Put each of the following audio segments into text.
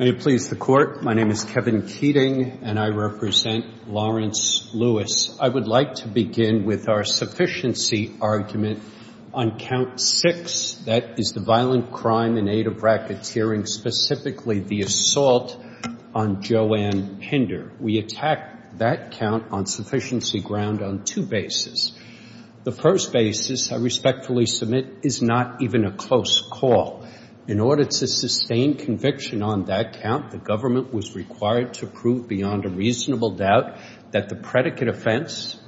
May it please the Court, my name is Kevin Keating and I represent Lawrence Lewis. I would like to begin with our sufficiency argument on count six, that is the violent crime in aid of racketeering, specifically the assault on Joanne Hinder. We attack that count on sufficiency ground on two bases. The first basis, I respectfully submit, is not even a close call. In order to sustain conviction on that count, the government was required to prove beyond a reasonable doubt that the predicate offense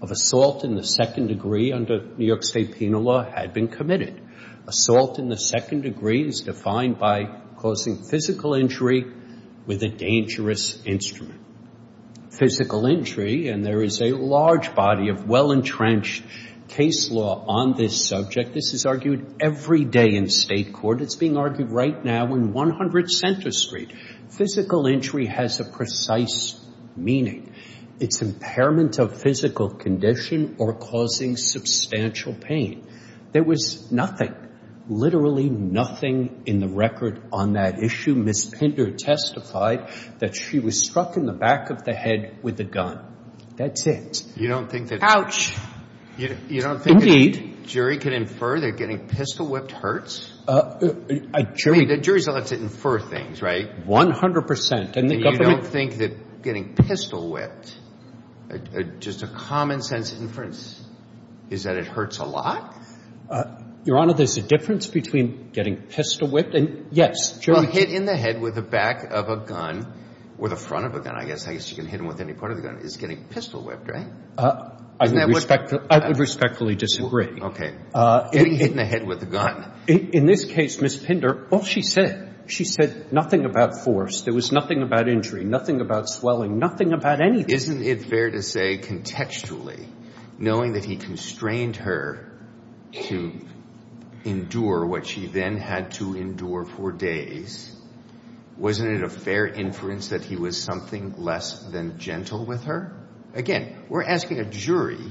of assault in the second degree under New York State penal law had been committed. Assault in the second degree is defined by causing physical injury with a dangerous instrument. Physical injury, and there is a large body of well-entrenched case law on this subject, this is argued every day in state court, it's being argued right now in 100 Center Street. Physical injury has a precise meaning. It's impairment of physical condition or causing substantial pain. There was nothing, literally nothing in the record on that issue. Ms. Hinder testified that she was struck in the back of the head with a gun. That's it. You don't think that. Ouch. You don't think a jury can infer they're getting pistol-whipped hurts? A jury. A jury's allowed to infer things, right? 100%. And you don't think that getting pistol-whipped, just a common-sense inference, is that it hurts a lot? Your Honor, there's a difference between getting pistol-whipped and, yes, jury can. Well, hit in the head with the back of a gun, or the front of a gun, I guess, I guess you can hit them with any part of the gun, is getting pistol-whipped, right? I would respectfully disagree. Okay. Getting hit in the head with a gun. In this case, Ms. Hinder, all she said, she said nothing about force. There was nothing about injury, nothing about swelling, nothing about anything. Isn't it fair to say, contextually, knowing that he constrained her to endure what she then had to endure for days, wasn't it a fair inference that he was something less than gentle with her? Again, we're asking a jury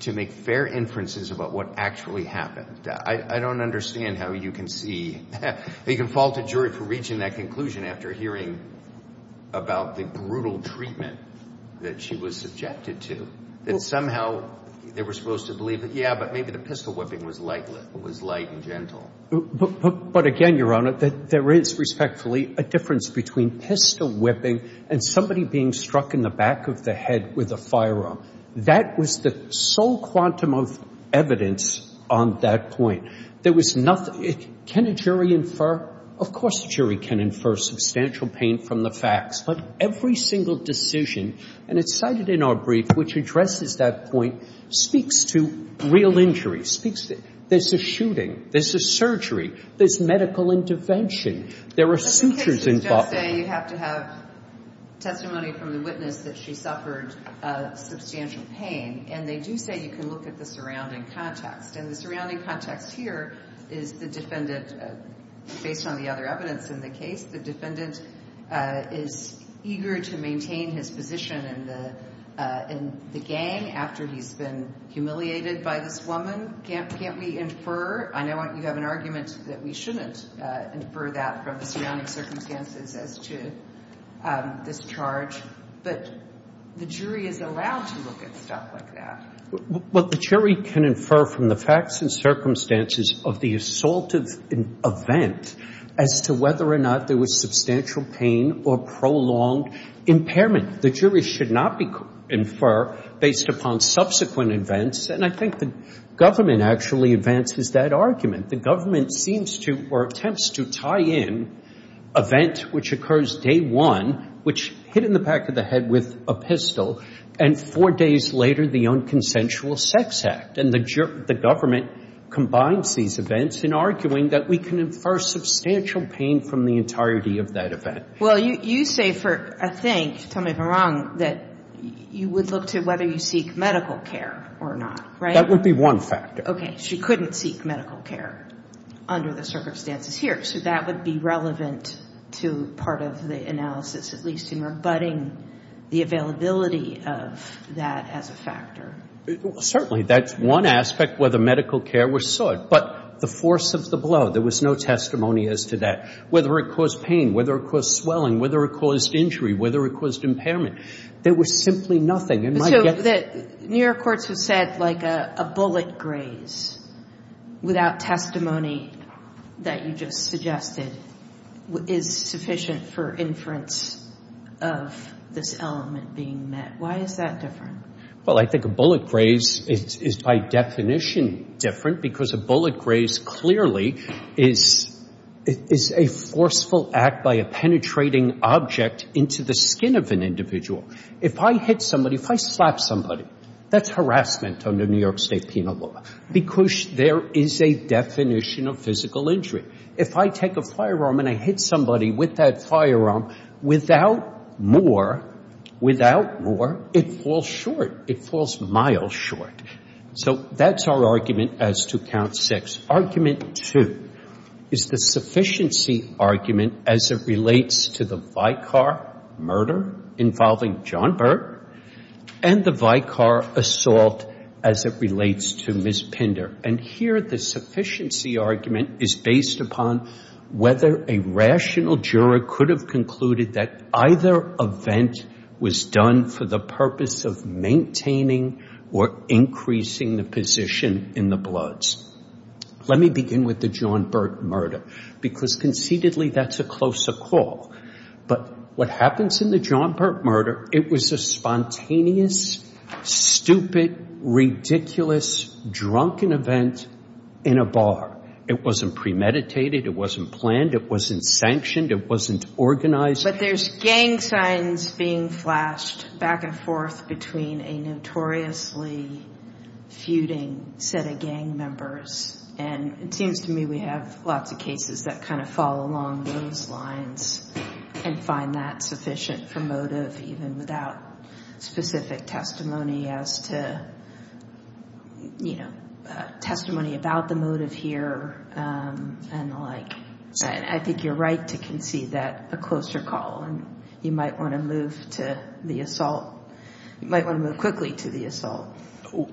to make fair inferences about what actually happened. I don't understand how you can see, you can fault a jury for reaching that conclusion after hearing about the brutal treatment that she was subjected to. That somehow, they were supposed to believe that, yeah, but maybe the pistol-whipping was light and gentle. But again, Your Honor, there is, respectfully, a difference between pistol-whipping and somebody being struck in the back of the head with a firearm. That was the sole quantum of evidence on that point. There was nothing, can a jury infer? Of course, a jury can infer substantial pain from the facts. But every single decision, and it's cited in our brief, which addresses that point, speaks to real injury. Speaks to, there's a shooting, there's a surgery, there's medical intervention, there are sutures involved. But the cases just say you have to have testimony from the witness that she suffered substantial pain. And they do say you can look at the surrounding context. And the surrounding context here is the defendant, based on the other evidence in the case, the defendant is eager to maintain his position in the gang after he's been humiliated by this woman. Can't we infer? I know you have an argument that we shouldn't infer that from the surrounding circumstances as to this charge. But the jury is allowed to look at stuff like that. Well, the jury can infer from the facts and circumstances of the assaultive event as to whether or not there was substantial pain or prolonged impairment. The jury should not infer based upon subsequent events. And I think the government actually advances that argument. The government seems to, or attempts to, tie in event which occurs day one, which hit in the back of the head with a pistol. And four days later, the unconsensual sex act. And the government combines these events in arguing that we can infer substantial pain from the entirety of that event. Well, you say for a thing, tell me if I'm wrong, that you would look to whether you seek medical care or not, right? That would be one factor. Okay. She couldn't seek medical care under the circumstances here. So that would be relevant to part of the analysis, at least in rebutting the availability of that as a factor. Certainly. That's one aspect, whether medical care was sought. But the force of the blow, there was no testimony as to that. Whether it caused pain, whether it caused swelling, whether it caused injury, whether it caused impairment. There was simply nothing. So the New York courts have said like a bullet graze without testimony that you just suggested is sufficient for inference of this element being met. Why is that different? Well, I think a bullet graze is by definition different because a bullet graze clearly is a forceful act by a penetrating object into the skin of an individual. If I hit somebody, if I slap somebody, that's harassment under New York State penal law because there is a definition of physical injury. If I take a firearm and I hit somebody with that firearm, without more, without more, it falls short. It falls miles short. So that's our argument as to count six. Argument two is the sufficiency argument as it relates to the Vicar murder involving John Burke and the Vicar assault as it relates to Ms. Pinder. And here the sufficiency argument is based upon whether a rational juror could have concluded that either event was done for the purpose of maintaining or increasing the position in the bloods. Let me begin with the John Burke murder because conceitedly that's a closer call. But what happens in the John Burke murder, it was a spontaneous, stupid, ridiculous, drunken event in a bar. It wasn't premeditated. It wasn't planned. It wasn't sanctioned. It wasn't organized. But there's gang signs being flashed back and forth between a notoriously feuding set of gang members. And it seems to me we have lots of cases that kind of fall along those lines and find that sufficient for motive even without specific testimony as to, you know, testimony about the motive here and the like. I think you're right to concede that a closer call. And you might want to move to the assault. You might want to move quickly to the assault. Let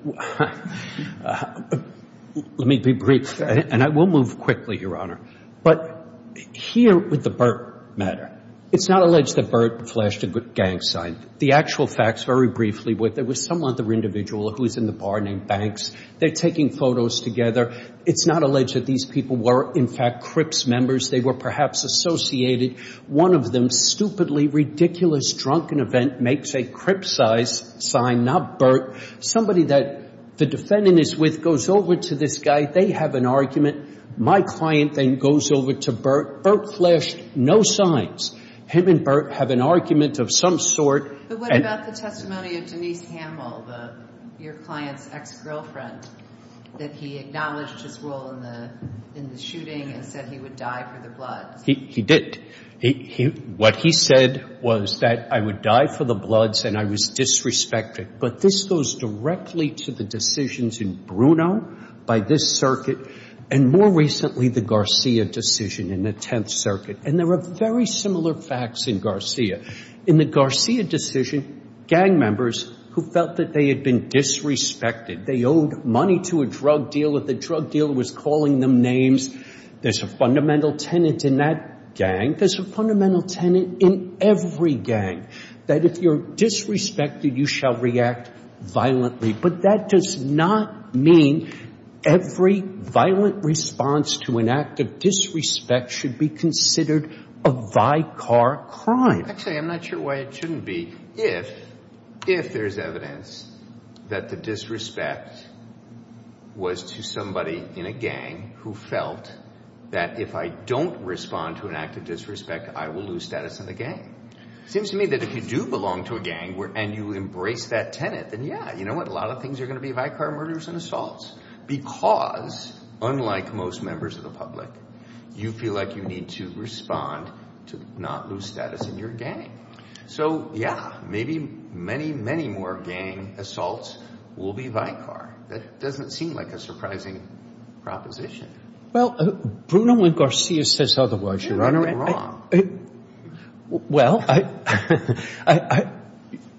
me be brief, and I will move quickly, Your Honor. But here with the Burke matter, it's not alleged that Burke flashed a gang sign. The actual facts very briefly were there was some other individual who was in the bar named Banks. They're taking photos together. It's not alleged that these people were, in fact, Crips members. They were perhaps associated. One of them, stupidly, ridiculous, drunken event, makes a Crips-size sign, not Burke. Somebody that the defendant is with goes over to this guy. They have an argument. My client then goes over to Burke. Burke flashed no signs. Him and Burke have an argument of some sort. But what about the testimony of Denise Hamill, your client's ex-girlfriend, that he acknowledged his role in the shooting and said he would die for the bloods? He did. What he said was that I would die for the bloods and I was disrespected. But this goes directly to the decisions in Bruno by this circuit, and more recently, the Garcia decision in the Tenth Circuit. And there were very similar facts in Garcia. In the Garcia decision, gang members who felt that they had been disrespected, they owed money to a drug dealer, the drug dealer was calling them names. There's a fundamental tenet in that gang. There's a fundamental tenet in every gang, that if you're disrespected, you shall react violently. But that does not mean every violent response to an act of disrespect should be considered a vicar crime. Actually, I'm not sure why it shouldn't be, if there's evidence that the disrespect was to somebody in a gang who felt that if I don't respond to an act of disrespect, I will lose status in the gang. Seems to me that if you do belong to a gang and you embrace that tenet, then yeah, you know what, a lot of things are going to be vicar murders and assaults. Because, unlike most members of the public, you feel like you need to respond to not lose status in your gang. So yeah, maybe many, many more gang assaults will be vicar. That doesn't seem like a surprising proposition. Well, Bruno and Garcia says otherwise. Well,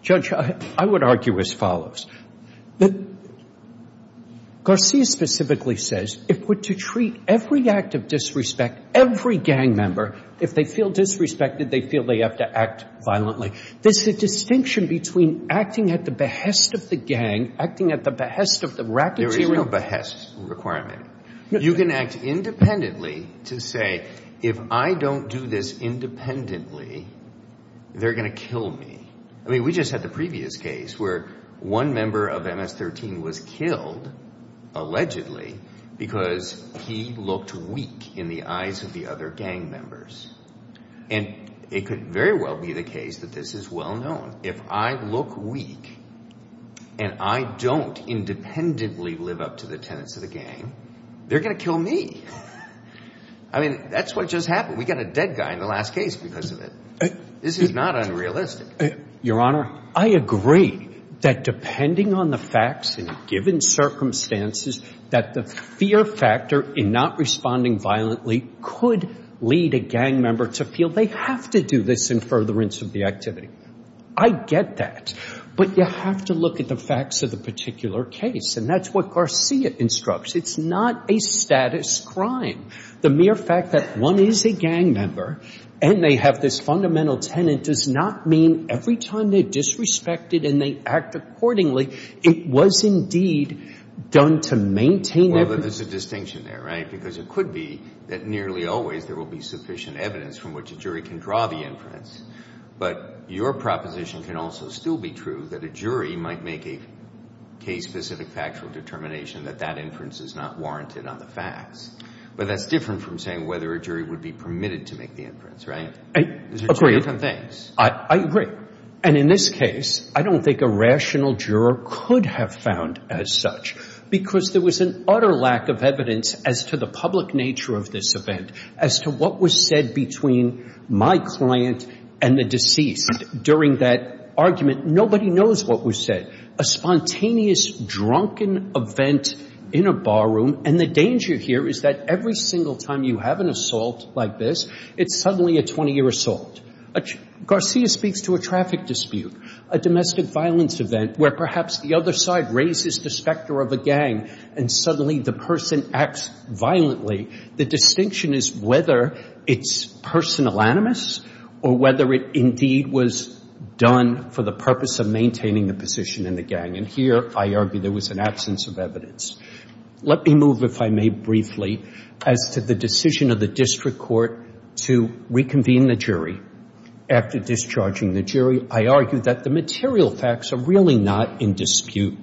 Judge, I would argue as follows. That Garcia specifically says, if we're to treat every act of disrespect, every gang member, if they feel disrespected, they feel they have to act violently. There's a distinction between acting at the behest of the gang, acting at the behest of the racketeering. There is no behest requirement. You can act independently to say, if I don't do this independently, they're going to kill me. I mean, we just had the previous case where one member of MS-13 was killed, allegedly, because he looked weak in the eyes of the other gang members. And it could very well be the case that this is well known. If I look weak and I don't independently live up to the tenets of the gang, they're going to kill me. I mean, that's what just happened. We got a dead guy in the last case because of it. This is not unrealistic. Your Honor, I agree that depending on the facts and given circumstances, that the fear factor in not responding violently could lead a gang member to feel they have to do this in furtherance of the activity. I get that. But you have to look at the facts of the particular case. And that's what Garcia instructs. It's not a status crime. The mere fact that one is a gang member and they have this fundamental tenet does not mean every time they're disrespected and they act accordingly, it was indeed done to maintain... Well, there's a distinction there, right? Because it could be that nearly always there will be sufficient evidence from which a jury can draw the inference. But your proposition can also still be true, that a jury might make a case-specific factual determination that that inference is not warranted on the facts. But that's different from saying whether a jury would be permitted to make the inference, right? I agree. I agree. And in this case, I don't think a rational juror could have found as such, because there was an utter lack of evidence as to the public nature of this event, as to what was said between my client and the deceased during that argument. Nobody knows what was said. A spontaneous, drunken event in a bar room. And the danger here is that every single time you have an assault like this, it's suddenly a 20-year assault. Garcia speaks to a traffic dispute, a domestic violence event, where perhaps the other side raises the specter of a gang, and suddenly the person acts violently. The distinction is whether it's personal animus, or whether it indeed was done for the purpose of maintaining the position in the gang. And here, I argue there was an absence of evidence. Let me move, if I may briefly, as to the decision of the district court to reconvene the jury. After discharging the jury, I argue that the material facts are really not in dispute.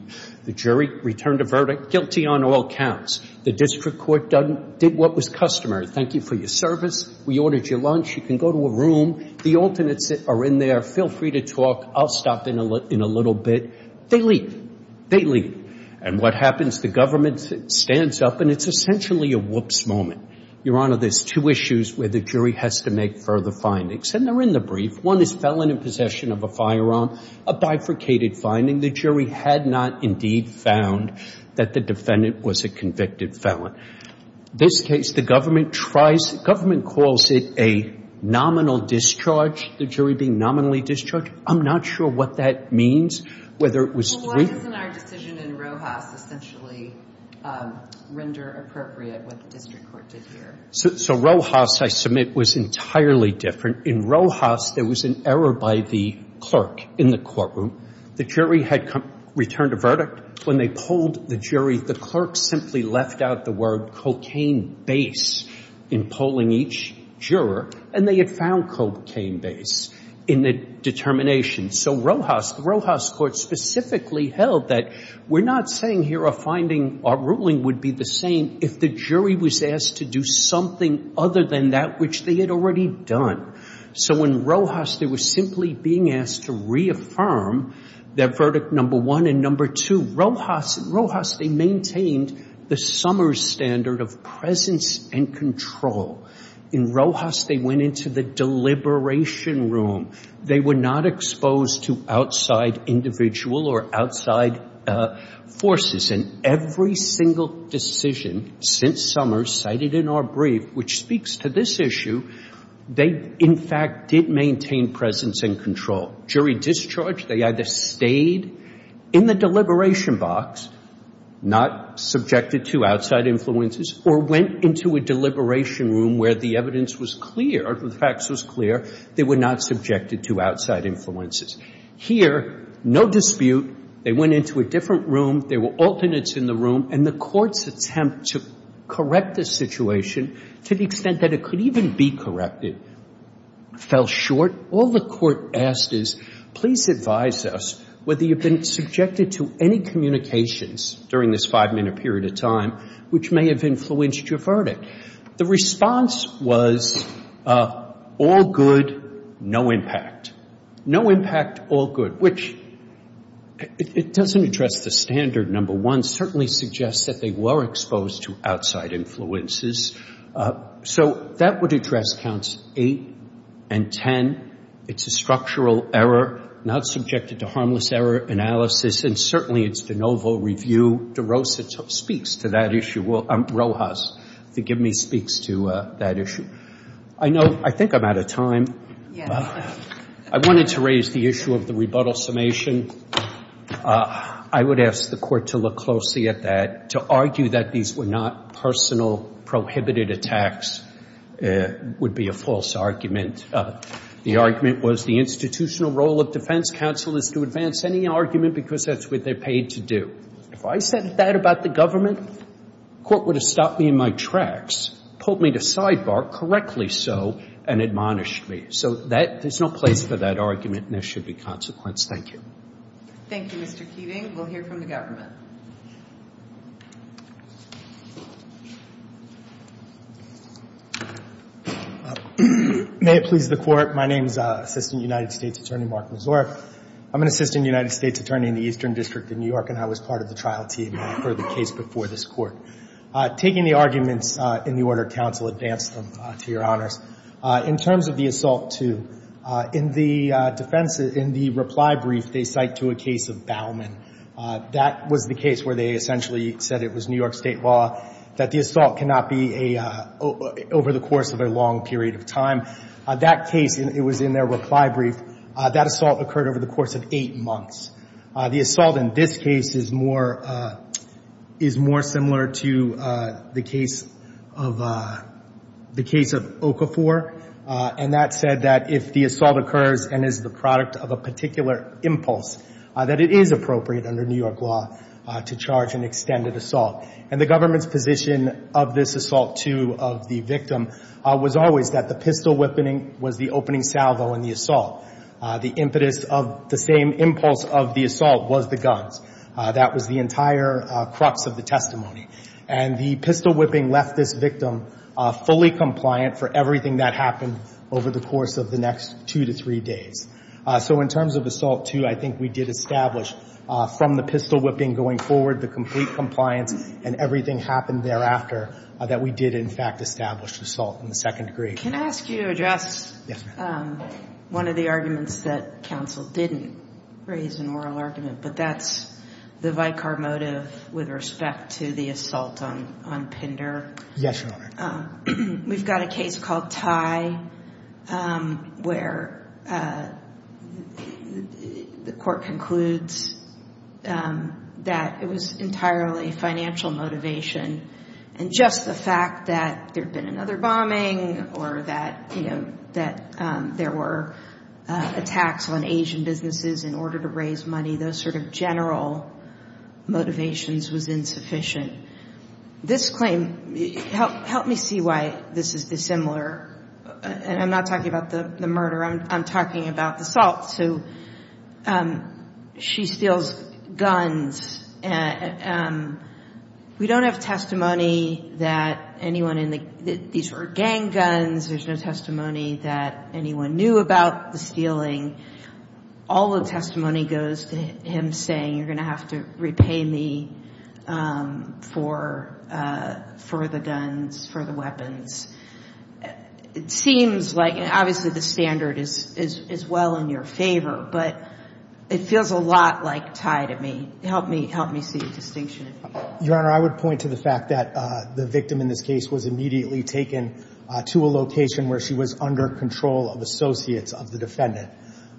The jury returned a verdict, guilty on all counts. The district court did what was customary. Thank you for your service. We ordered your lunch. You can go to a room. The alternates are in there. Feel free to talk. I'll stop in a little bit. They leave. They leave. And what happens? The government stands up, and it's essentially a whoops moment. Your Honor, there's two issues where the jury has to make further findings. And they're in the brief. One is felon in possession of a firearm, a bifurcated finding. The jury had not indeed found that the defendant was a convicted felon. This case, the government tries, government calls it a nominal discharge, the jury being nominally discharged. I'm not sure what that means, whether it was three. Well, why doesn't our decision in Rojas essentially render appropriate what the district court did here? So Rojas, I submit, was entirely different. In Rojas, there was an error by the clerk in the courtroom. The jury had returned a verdict. When they polled the jury, the clerk simply left out the word cocaine base in polling each juror. And they had found cocaine base in the determination. So Rojas, the Rojas court specifically held that we're not saying here a finding, our ruling would be the same if the jury was asked to do something other than that which they had already done. So in Rojas, they were simply being asked to reaffirm their verdict number one and number two. Rojas, they maintained the summer standard of presence and control. In Rojas, they went into the deliberation room. They were not exposed to outside individual or outside forces. And every single decision since summer cited in our brief, which speaks to this issue, they, in fact, did maintain presence and control. Jury discharge, they either stayed in the deliberation box, not subjected to outside influences, or went into a deliberation room where the evidence was clear, the facts was clear, they were not subjected to outside influences. Here, no dispute. They went into a different room. There were alternates in the room. And the court's attempt to correct the situation to the extent that it could even be corrected fell short. All the court asked is, please advise us whether you've been subjected to any communications during this five-minute period of time which may have influenced your verdict. The response was, all good, no impact. No impact, all good. Which, it doesn't address the standard, number one. Certainly suggests that they were exposed to outside influences. So that would address counts eight and ten. It's a structural error, not subjected to harmless error analysis. And certainly, it's de novo review. De Rosa speaks to that issue. Well, Rojas, forgive me, speaks to that issue. I know, I think I'm out of time. Well, I wanted to raise the issue of the rebuttal summation. I would ask the court to look closely at that. To argue that these were not personal prohibited attacks would be a false argument. The argument was the institutional role of defense counsel is to advance any argument because that's what they're paid to do. If I said that about the government, the court would have stopped me in my tracks, pulled me to sidebar, correctly so, and admonished me. So there's no place for that argument, and there should be consequence. Thank you. Thank you, Mr. Keating. We'll hear from the government. May it please the Court. My name is Assistant United States Attorney Mark Mazur. I'm an Assistant United States Attorney in the Eastern District of New York, and I was part of the trial team for the case before this Court. Taking the arguments in the order of counsel, advance them to your honors. In terms of the assault too, in the defense, in the reply brief, they cite to a case of Bauman. That was the case where they essentially said it was New York State law that the assault cannot be over the course of a long period of time. That case, it was in their reply brief, that assault occurred over the course of eight months. The assault in this case is more similar to the case of Okafor. And that said that if the assault occurs and is the product of a particular impulse, that it is appropriate under New York law to charge an extended assault. And the government's position of this assault too, of the victim, was always that the pistol whippening was the opening salvo in the assault. The impetus of the same impulse of the assault was the guns. That was the entire crux of the testimony. And the pistol whipping left this victim fully compliant for everything that happened over the course of the next two to three days. So in terms of assault too, I think we did establish from the pistol whipping going forward, the complete compliance, and everything happened thereafter, that we did in fact establish the assault in the second degree. Can I ask you to address one of the arguments that counsel didn't raise in moral argument? But that's the vicar motive with respect to the assault on Pinder. Yes, Your Honor. We've got a case called Ty where the court concludes that it was entirely financial motivation. And just the fact that there'd been another bombing or that, you know, that there were attacks on Asian businesses in order to raise money, those sort of general motivations was insufficient. This claim, help me see why this is dissimilar. And I'm not talking about the murder, I'm talking about the assault. So she steals guns. We don't have testimony that anyone in the, these were gang guns. There's no testimony that anyone knew about the stealing. All the testimony goes to him saying, you're going to have to repay me for the guns, for the weapons. It seems like, obviously the standard is well in your favor, but it feels a lot like Ty to me. Help me see the distinction. Your Honor, I would point to the fact that the victim in this case was immediately taken to a location where she was under control of associates of the defendant.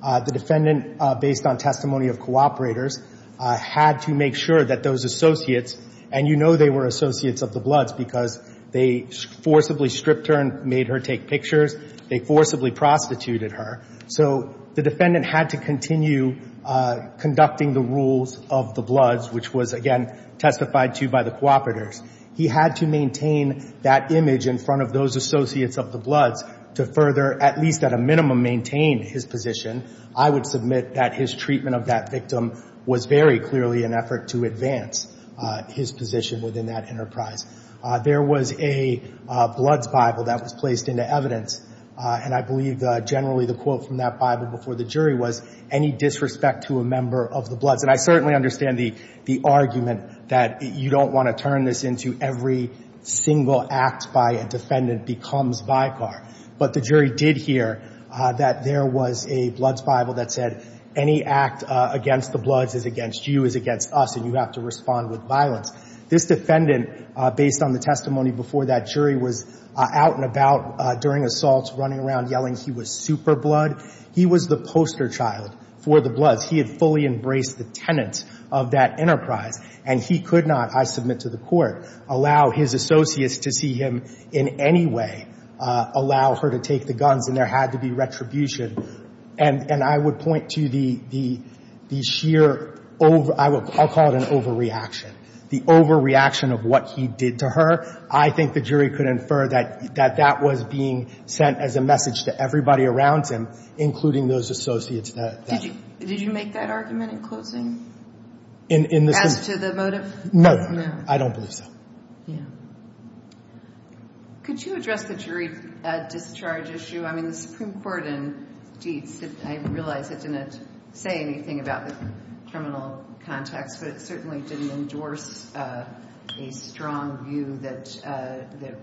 The defendant, based on testimony of cooperators, had to make sure that those associates, and you know they were associates of the Bloods because they forcibly stripped her and made her take pictures, they forcibly prostituted her. So the defendant had to continue conducting the rules of the Bloods, which was, again, testified to by the cooperators. He had to maintain that image in front of those associates of the Bloods to further, at least at a minimum, maintain his position. I would submit that his treatment of that victim was very clearly an effort to advance his position within that enterprise. There was a Bloods Bible that was placed into evidence, and I believe generally the quote from that Bible before the jury was, any disrespect to a member of the Bloods. And I certainly understand the argument that you don't want to turn this into every single act by a defendant becomes vicar. But the jury did hear that there was a Bloods Bible that said, any act against the Bloods is against you, is against us, and you have to respond with violence. This defendant, based on the testimony before that jury, was out and about during assaults, running around yelling he was super Blood. He was the poster child for the Bloods. He had fully embraced the tenets of that enterprise. And he could not, I submit to the court, allow his associates to see him in any way, allow her to take the guns, and there had to be retribution. And I would point to the sheer, I'll call it an overreaction, the overreaction of what he did to her. I think the jury could infer that that was being sent as a message to everybody around him, including those associates. Did you make that argument in closing, as to the motive? No, I don't believe so. Could you address the jury discharge issue? The Supreme Court, indeed, I realize it didn't say anything about the terminal context, but it certainly didn't endorse a strong view that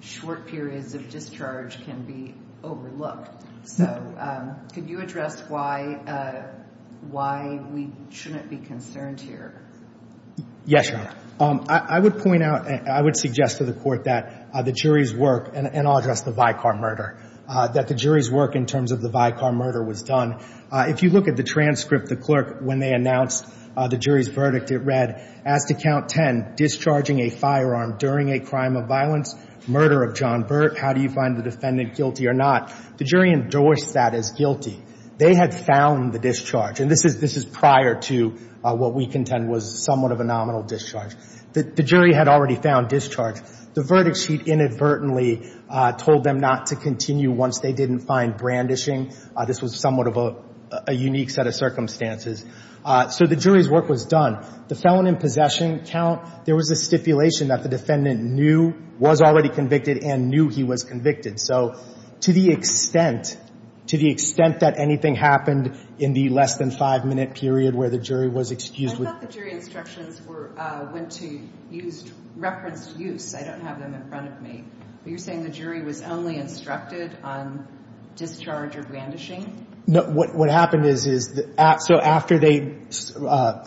short periods of discharge can be overlooked. So could you address why we shouldn't be concerned here? Yes, Your Honor. I would point out, I would suggest to the court that the jury's work, and I'll address the Vicar murder, that the jury's work in terms of the Vicar murder was done. If you look at the transcript, the clerk, when they announced the jury's verdict, it read, as to count 10, discharging a firearm during a crime of violence, murder of John Burt, how do you find the defendant guilty or not? The jury endorsed that as guilty. They had found the discharge. And this is prior to what we contend was somewhat of a nominal discharge. The jury had already found discharge. The verdict sheet inadvertently told them not to continue once they didn't find brandishing. This was somewhat of a unique set of circumstances. So the jury's work was done. The felon in possession count, there was a stipulation that the defendant knew, was already convicted, and knew he was convicted. So to the extent that anything happened in the less than five-minute period where the jury was excused. I thought the jury instructions were, went to used, referenced use. I don't have them in front of me. But you're saying the jury was only instructed on discharge or brandishing? No, what happened is, so after they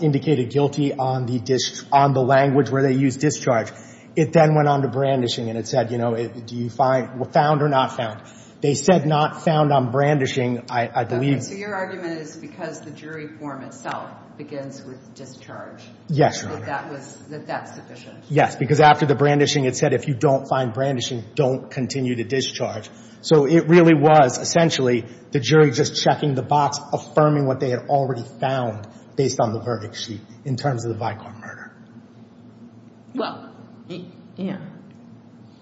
indicated guilty on the language where they used discharge, it then went on to brandishing. And it said, you know, do you find, found or not found? They said not found on brandishing, I believe. So your argument is because the jury form itself begins with discharge. Yes. That that was, that that's sufficient. Yes, because after the brandishing, it said if you don't find brandishing, don't continue to discharge. So it really was essentially the jury just checking the box, affirming what they had already found based on the verdict sheet in terms of the Vicar murder. Well, yeah.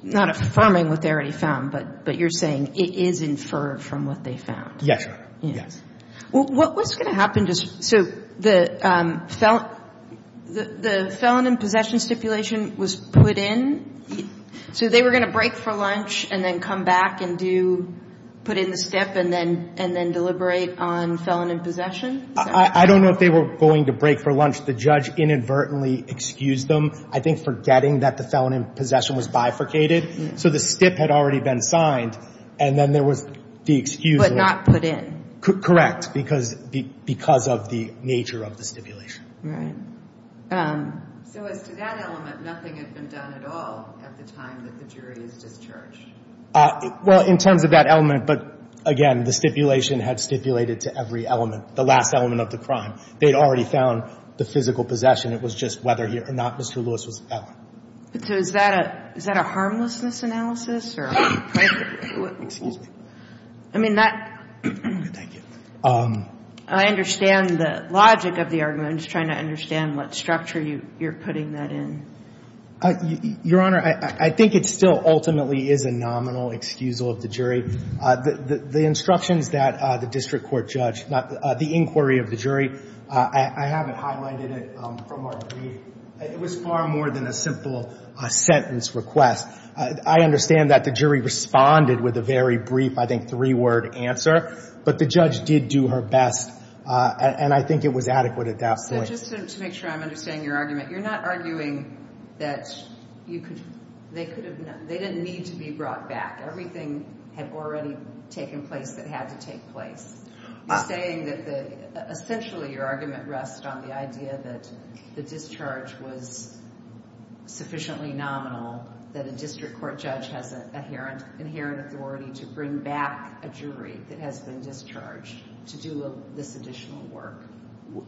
Not affirming what they already found, but you're saying it is inferred from what they found. Yes, yes. Well, what's going to happen to, so the felon, the felon in possession stipulation was put in. So they were going to break for lunch and then come back and do, put in the stip and then, and then deliberate on felon in possession? I don't know if they were going to break for lunch. The judge inadvertently excused them, I think forgetting that the felon in possession was bifurcated. So the stip had already been signed. And then there was the excuse. But not put in. Correct. Because, because of the nature of the stipulation. Right. So as to that element, nothing had been done at all at the time that the jury is discharged. Well, in terms of that element, but again, the stipulation had stipulated to every element, the last element of the crime. They'd already found the physical possession. It was just whether he or not Mr. Lewis was a felon. But so is that a, is that a harmlessness analysis or? Excuse me. I mean, that. Thank you. I understand the logic of the argument. I'm just trying to understand what structure you're putting that in. Your Honor, I think it still ultimately is a nominal excusal of the jury. The instructions that the district court judge, the inquiry of the jury, I haven't highlighted it from our brief. It was far more than a simple sentence request. I understand that the jury responded with a very brief, I think, three-word answer. But the judge did do her best. And I think it was adequate at that point. So just to make sure I'm understanding your argument, you're not arguing that you could, they could have, they didn't need to be brought back. Everything had already taken place that had to take place. You're saying that the, essentially your argument rests on the idea that the discharge was sufficiently nominal, that a district court judge has an inherent authority to bring back a jury that has been discharged to do this additional work.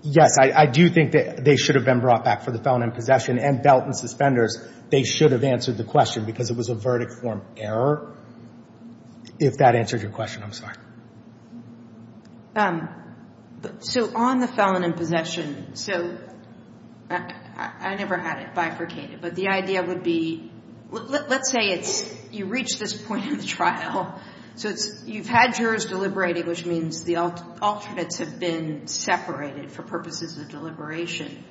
Yes, I do think that they should have been brought back for the felon in possession and belt and suspenders. They should have answered the question because it was a verdict form error. If that answers your question, I'm sorry. Um, so on the felon in possession, so I never had it bifurcated. But the idea would be, let's say it's, you reach this point in the trial. So it's, you've had jurors deliberating, which means the alternates have been separated for purposes of deliberation.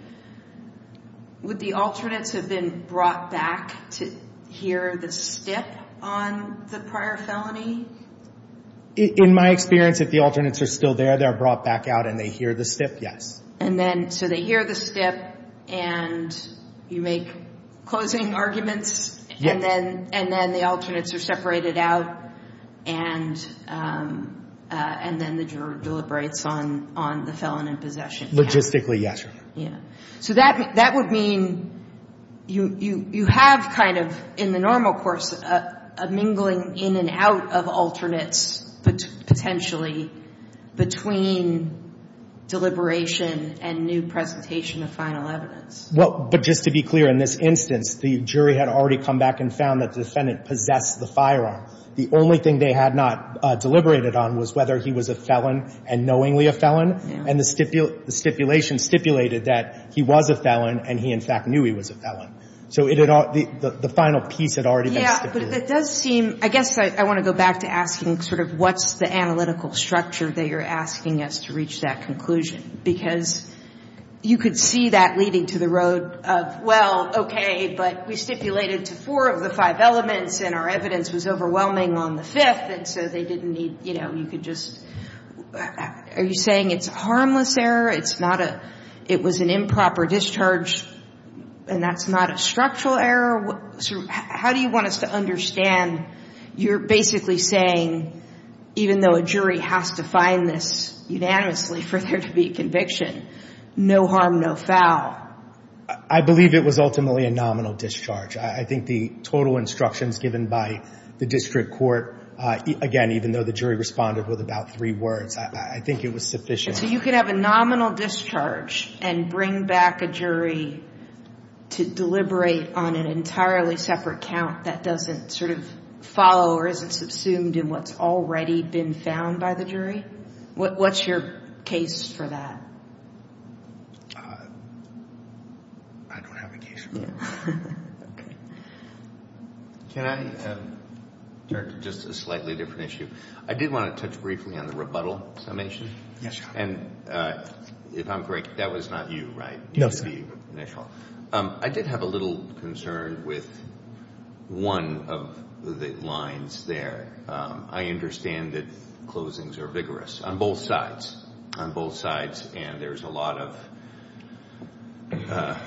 Would the alternates have been brought back to hear the stip on the prior felony? In my experience, if the alternates are still there, they're brought back out and they hear the stip, yes. And then, so they hear the stip and you make closing arguments? Yes. And then, and then the alternates are separated out and, um, uh, and then the juror deliberates on, on the felon in possession. Logistically, yes, Your Honor. Yeah. So that, that would mean you, you, you have kind of, in the normal course, a mingling in and out of alternates potentially between deliberation and new presentation of final evidence. Well, but just to be clear, in this instance, the jury had already come back and found that the defendant possessed the firearm. The only thing they had not, uh, deliberated on was whether he was a felon and knowingly a felon. And the stipu, the stipulation stipulated that he was a felon and he in fact knew he was a felon. So it had, the, the final piece had already been stipulated. It does seem, I guess I, I want to go back to asking sort of what's the analytical structure that you're asking us to reach that conclusion? Because you could see that leading to the road of, well, okay, but we stipulated to four of the five elements and our evidence was overwhelming on the fifth and so they didn't need, you know, you could just, are you saying it's a harmless error? It's not a, it was an improper discharge and that's not a structural error? How do you want us to understand you're basically saying, even though a jury has to find this unanimously for there to be a conviction, no harm, no foul? I believe it was ultimately a nominal discharge. I think the total instructions given by the district court, again, even though the jury responded with about three words, I think it was sufficient. So you could have a nominal discharge and bring back a jury to deliberate on an entirely separate count that doesn't sort of follow or isn't subsumed in what's already been found by the jury? What's your case for that? I don't have a case for that. Can I turn to just a slightly different issue? I did want to touch briefly on the rebuttal summation. And if I'm correct, that was not you, right? No, sir. I did have a little concern with one of the lines there. I understand that closings are vigorous on both sides, on both sides. And there's a lot of,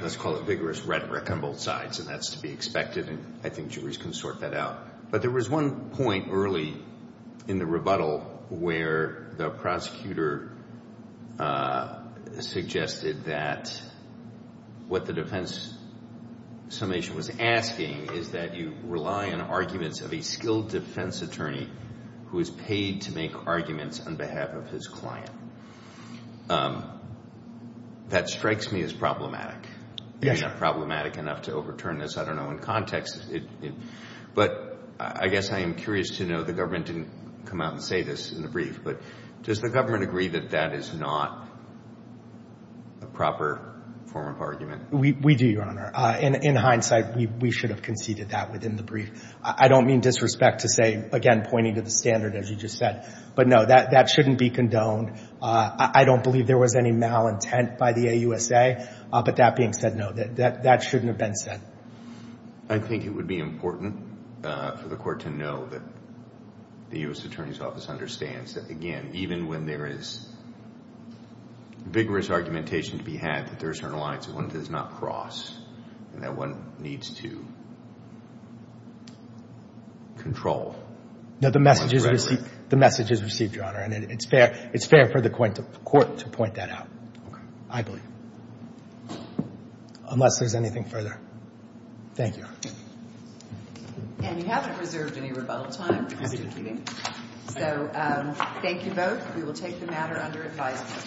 let's call it vigorous rhetoric on both sides. And that's to be expected. And I think juries can sort that out. But there was one point early in the rebuttal where the prosecutor suggested that what the defense summation was asking is that you rely on arguments of a skilled defense attorney who is paid to make arguments on behalf of his client. That strikes me as problematic. Yes, sir. I mean, not problematic enough to overturn this. I don't know in context. But I guess I am curious to know. The government didn't come out and say this in the brief. But does the government agree that that is not a proper form of argument? We do, Your Honor. In hindsight, we should have conceded that within the brief. I don't mean disrespect to say, again, pointing to the standard, as you just said. But no, that shouldn't be condoned. I don't believe there was any malintent by the AUSA. But that being said, no, that shouldn't have been said. I think it would be important for the court to know that the U.S. Attorney's Office understands that, again, even when there is vigorous argumentation to be had that there is an alliance that one does not cross and that one needs to control. No, the message is received, Your Honor. And it's fair for the court to point that out, I believe, unless there's anything further. Thank you, Your Honor. And we haven't reserved any rebuttal time. So thank you both. We will take the matter under advisement.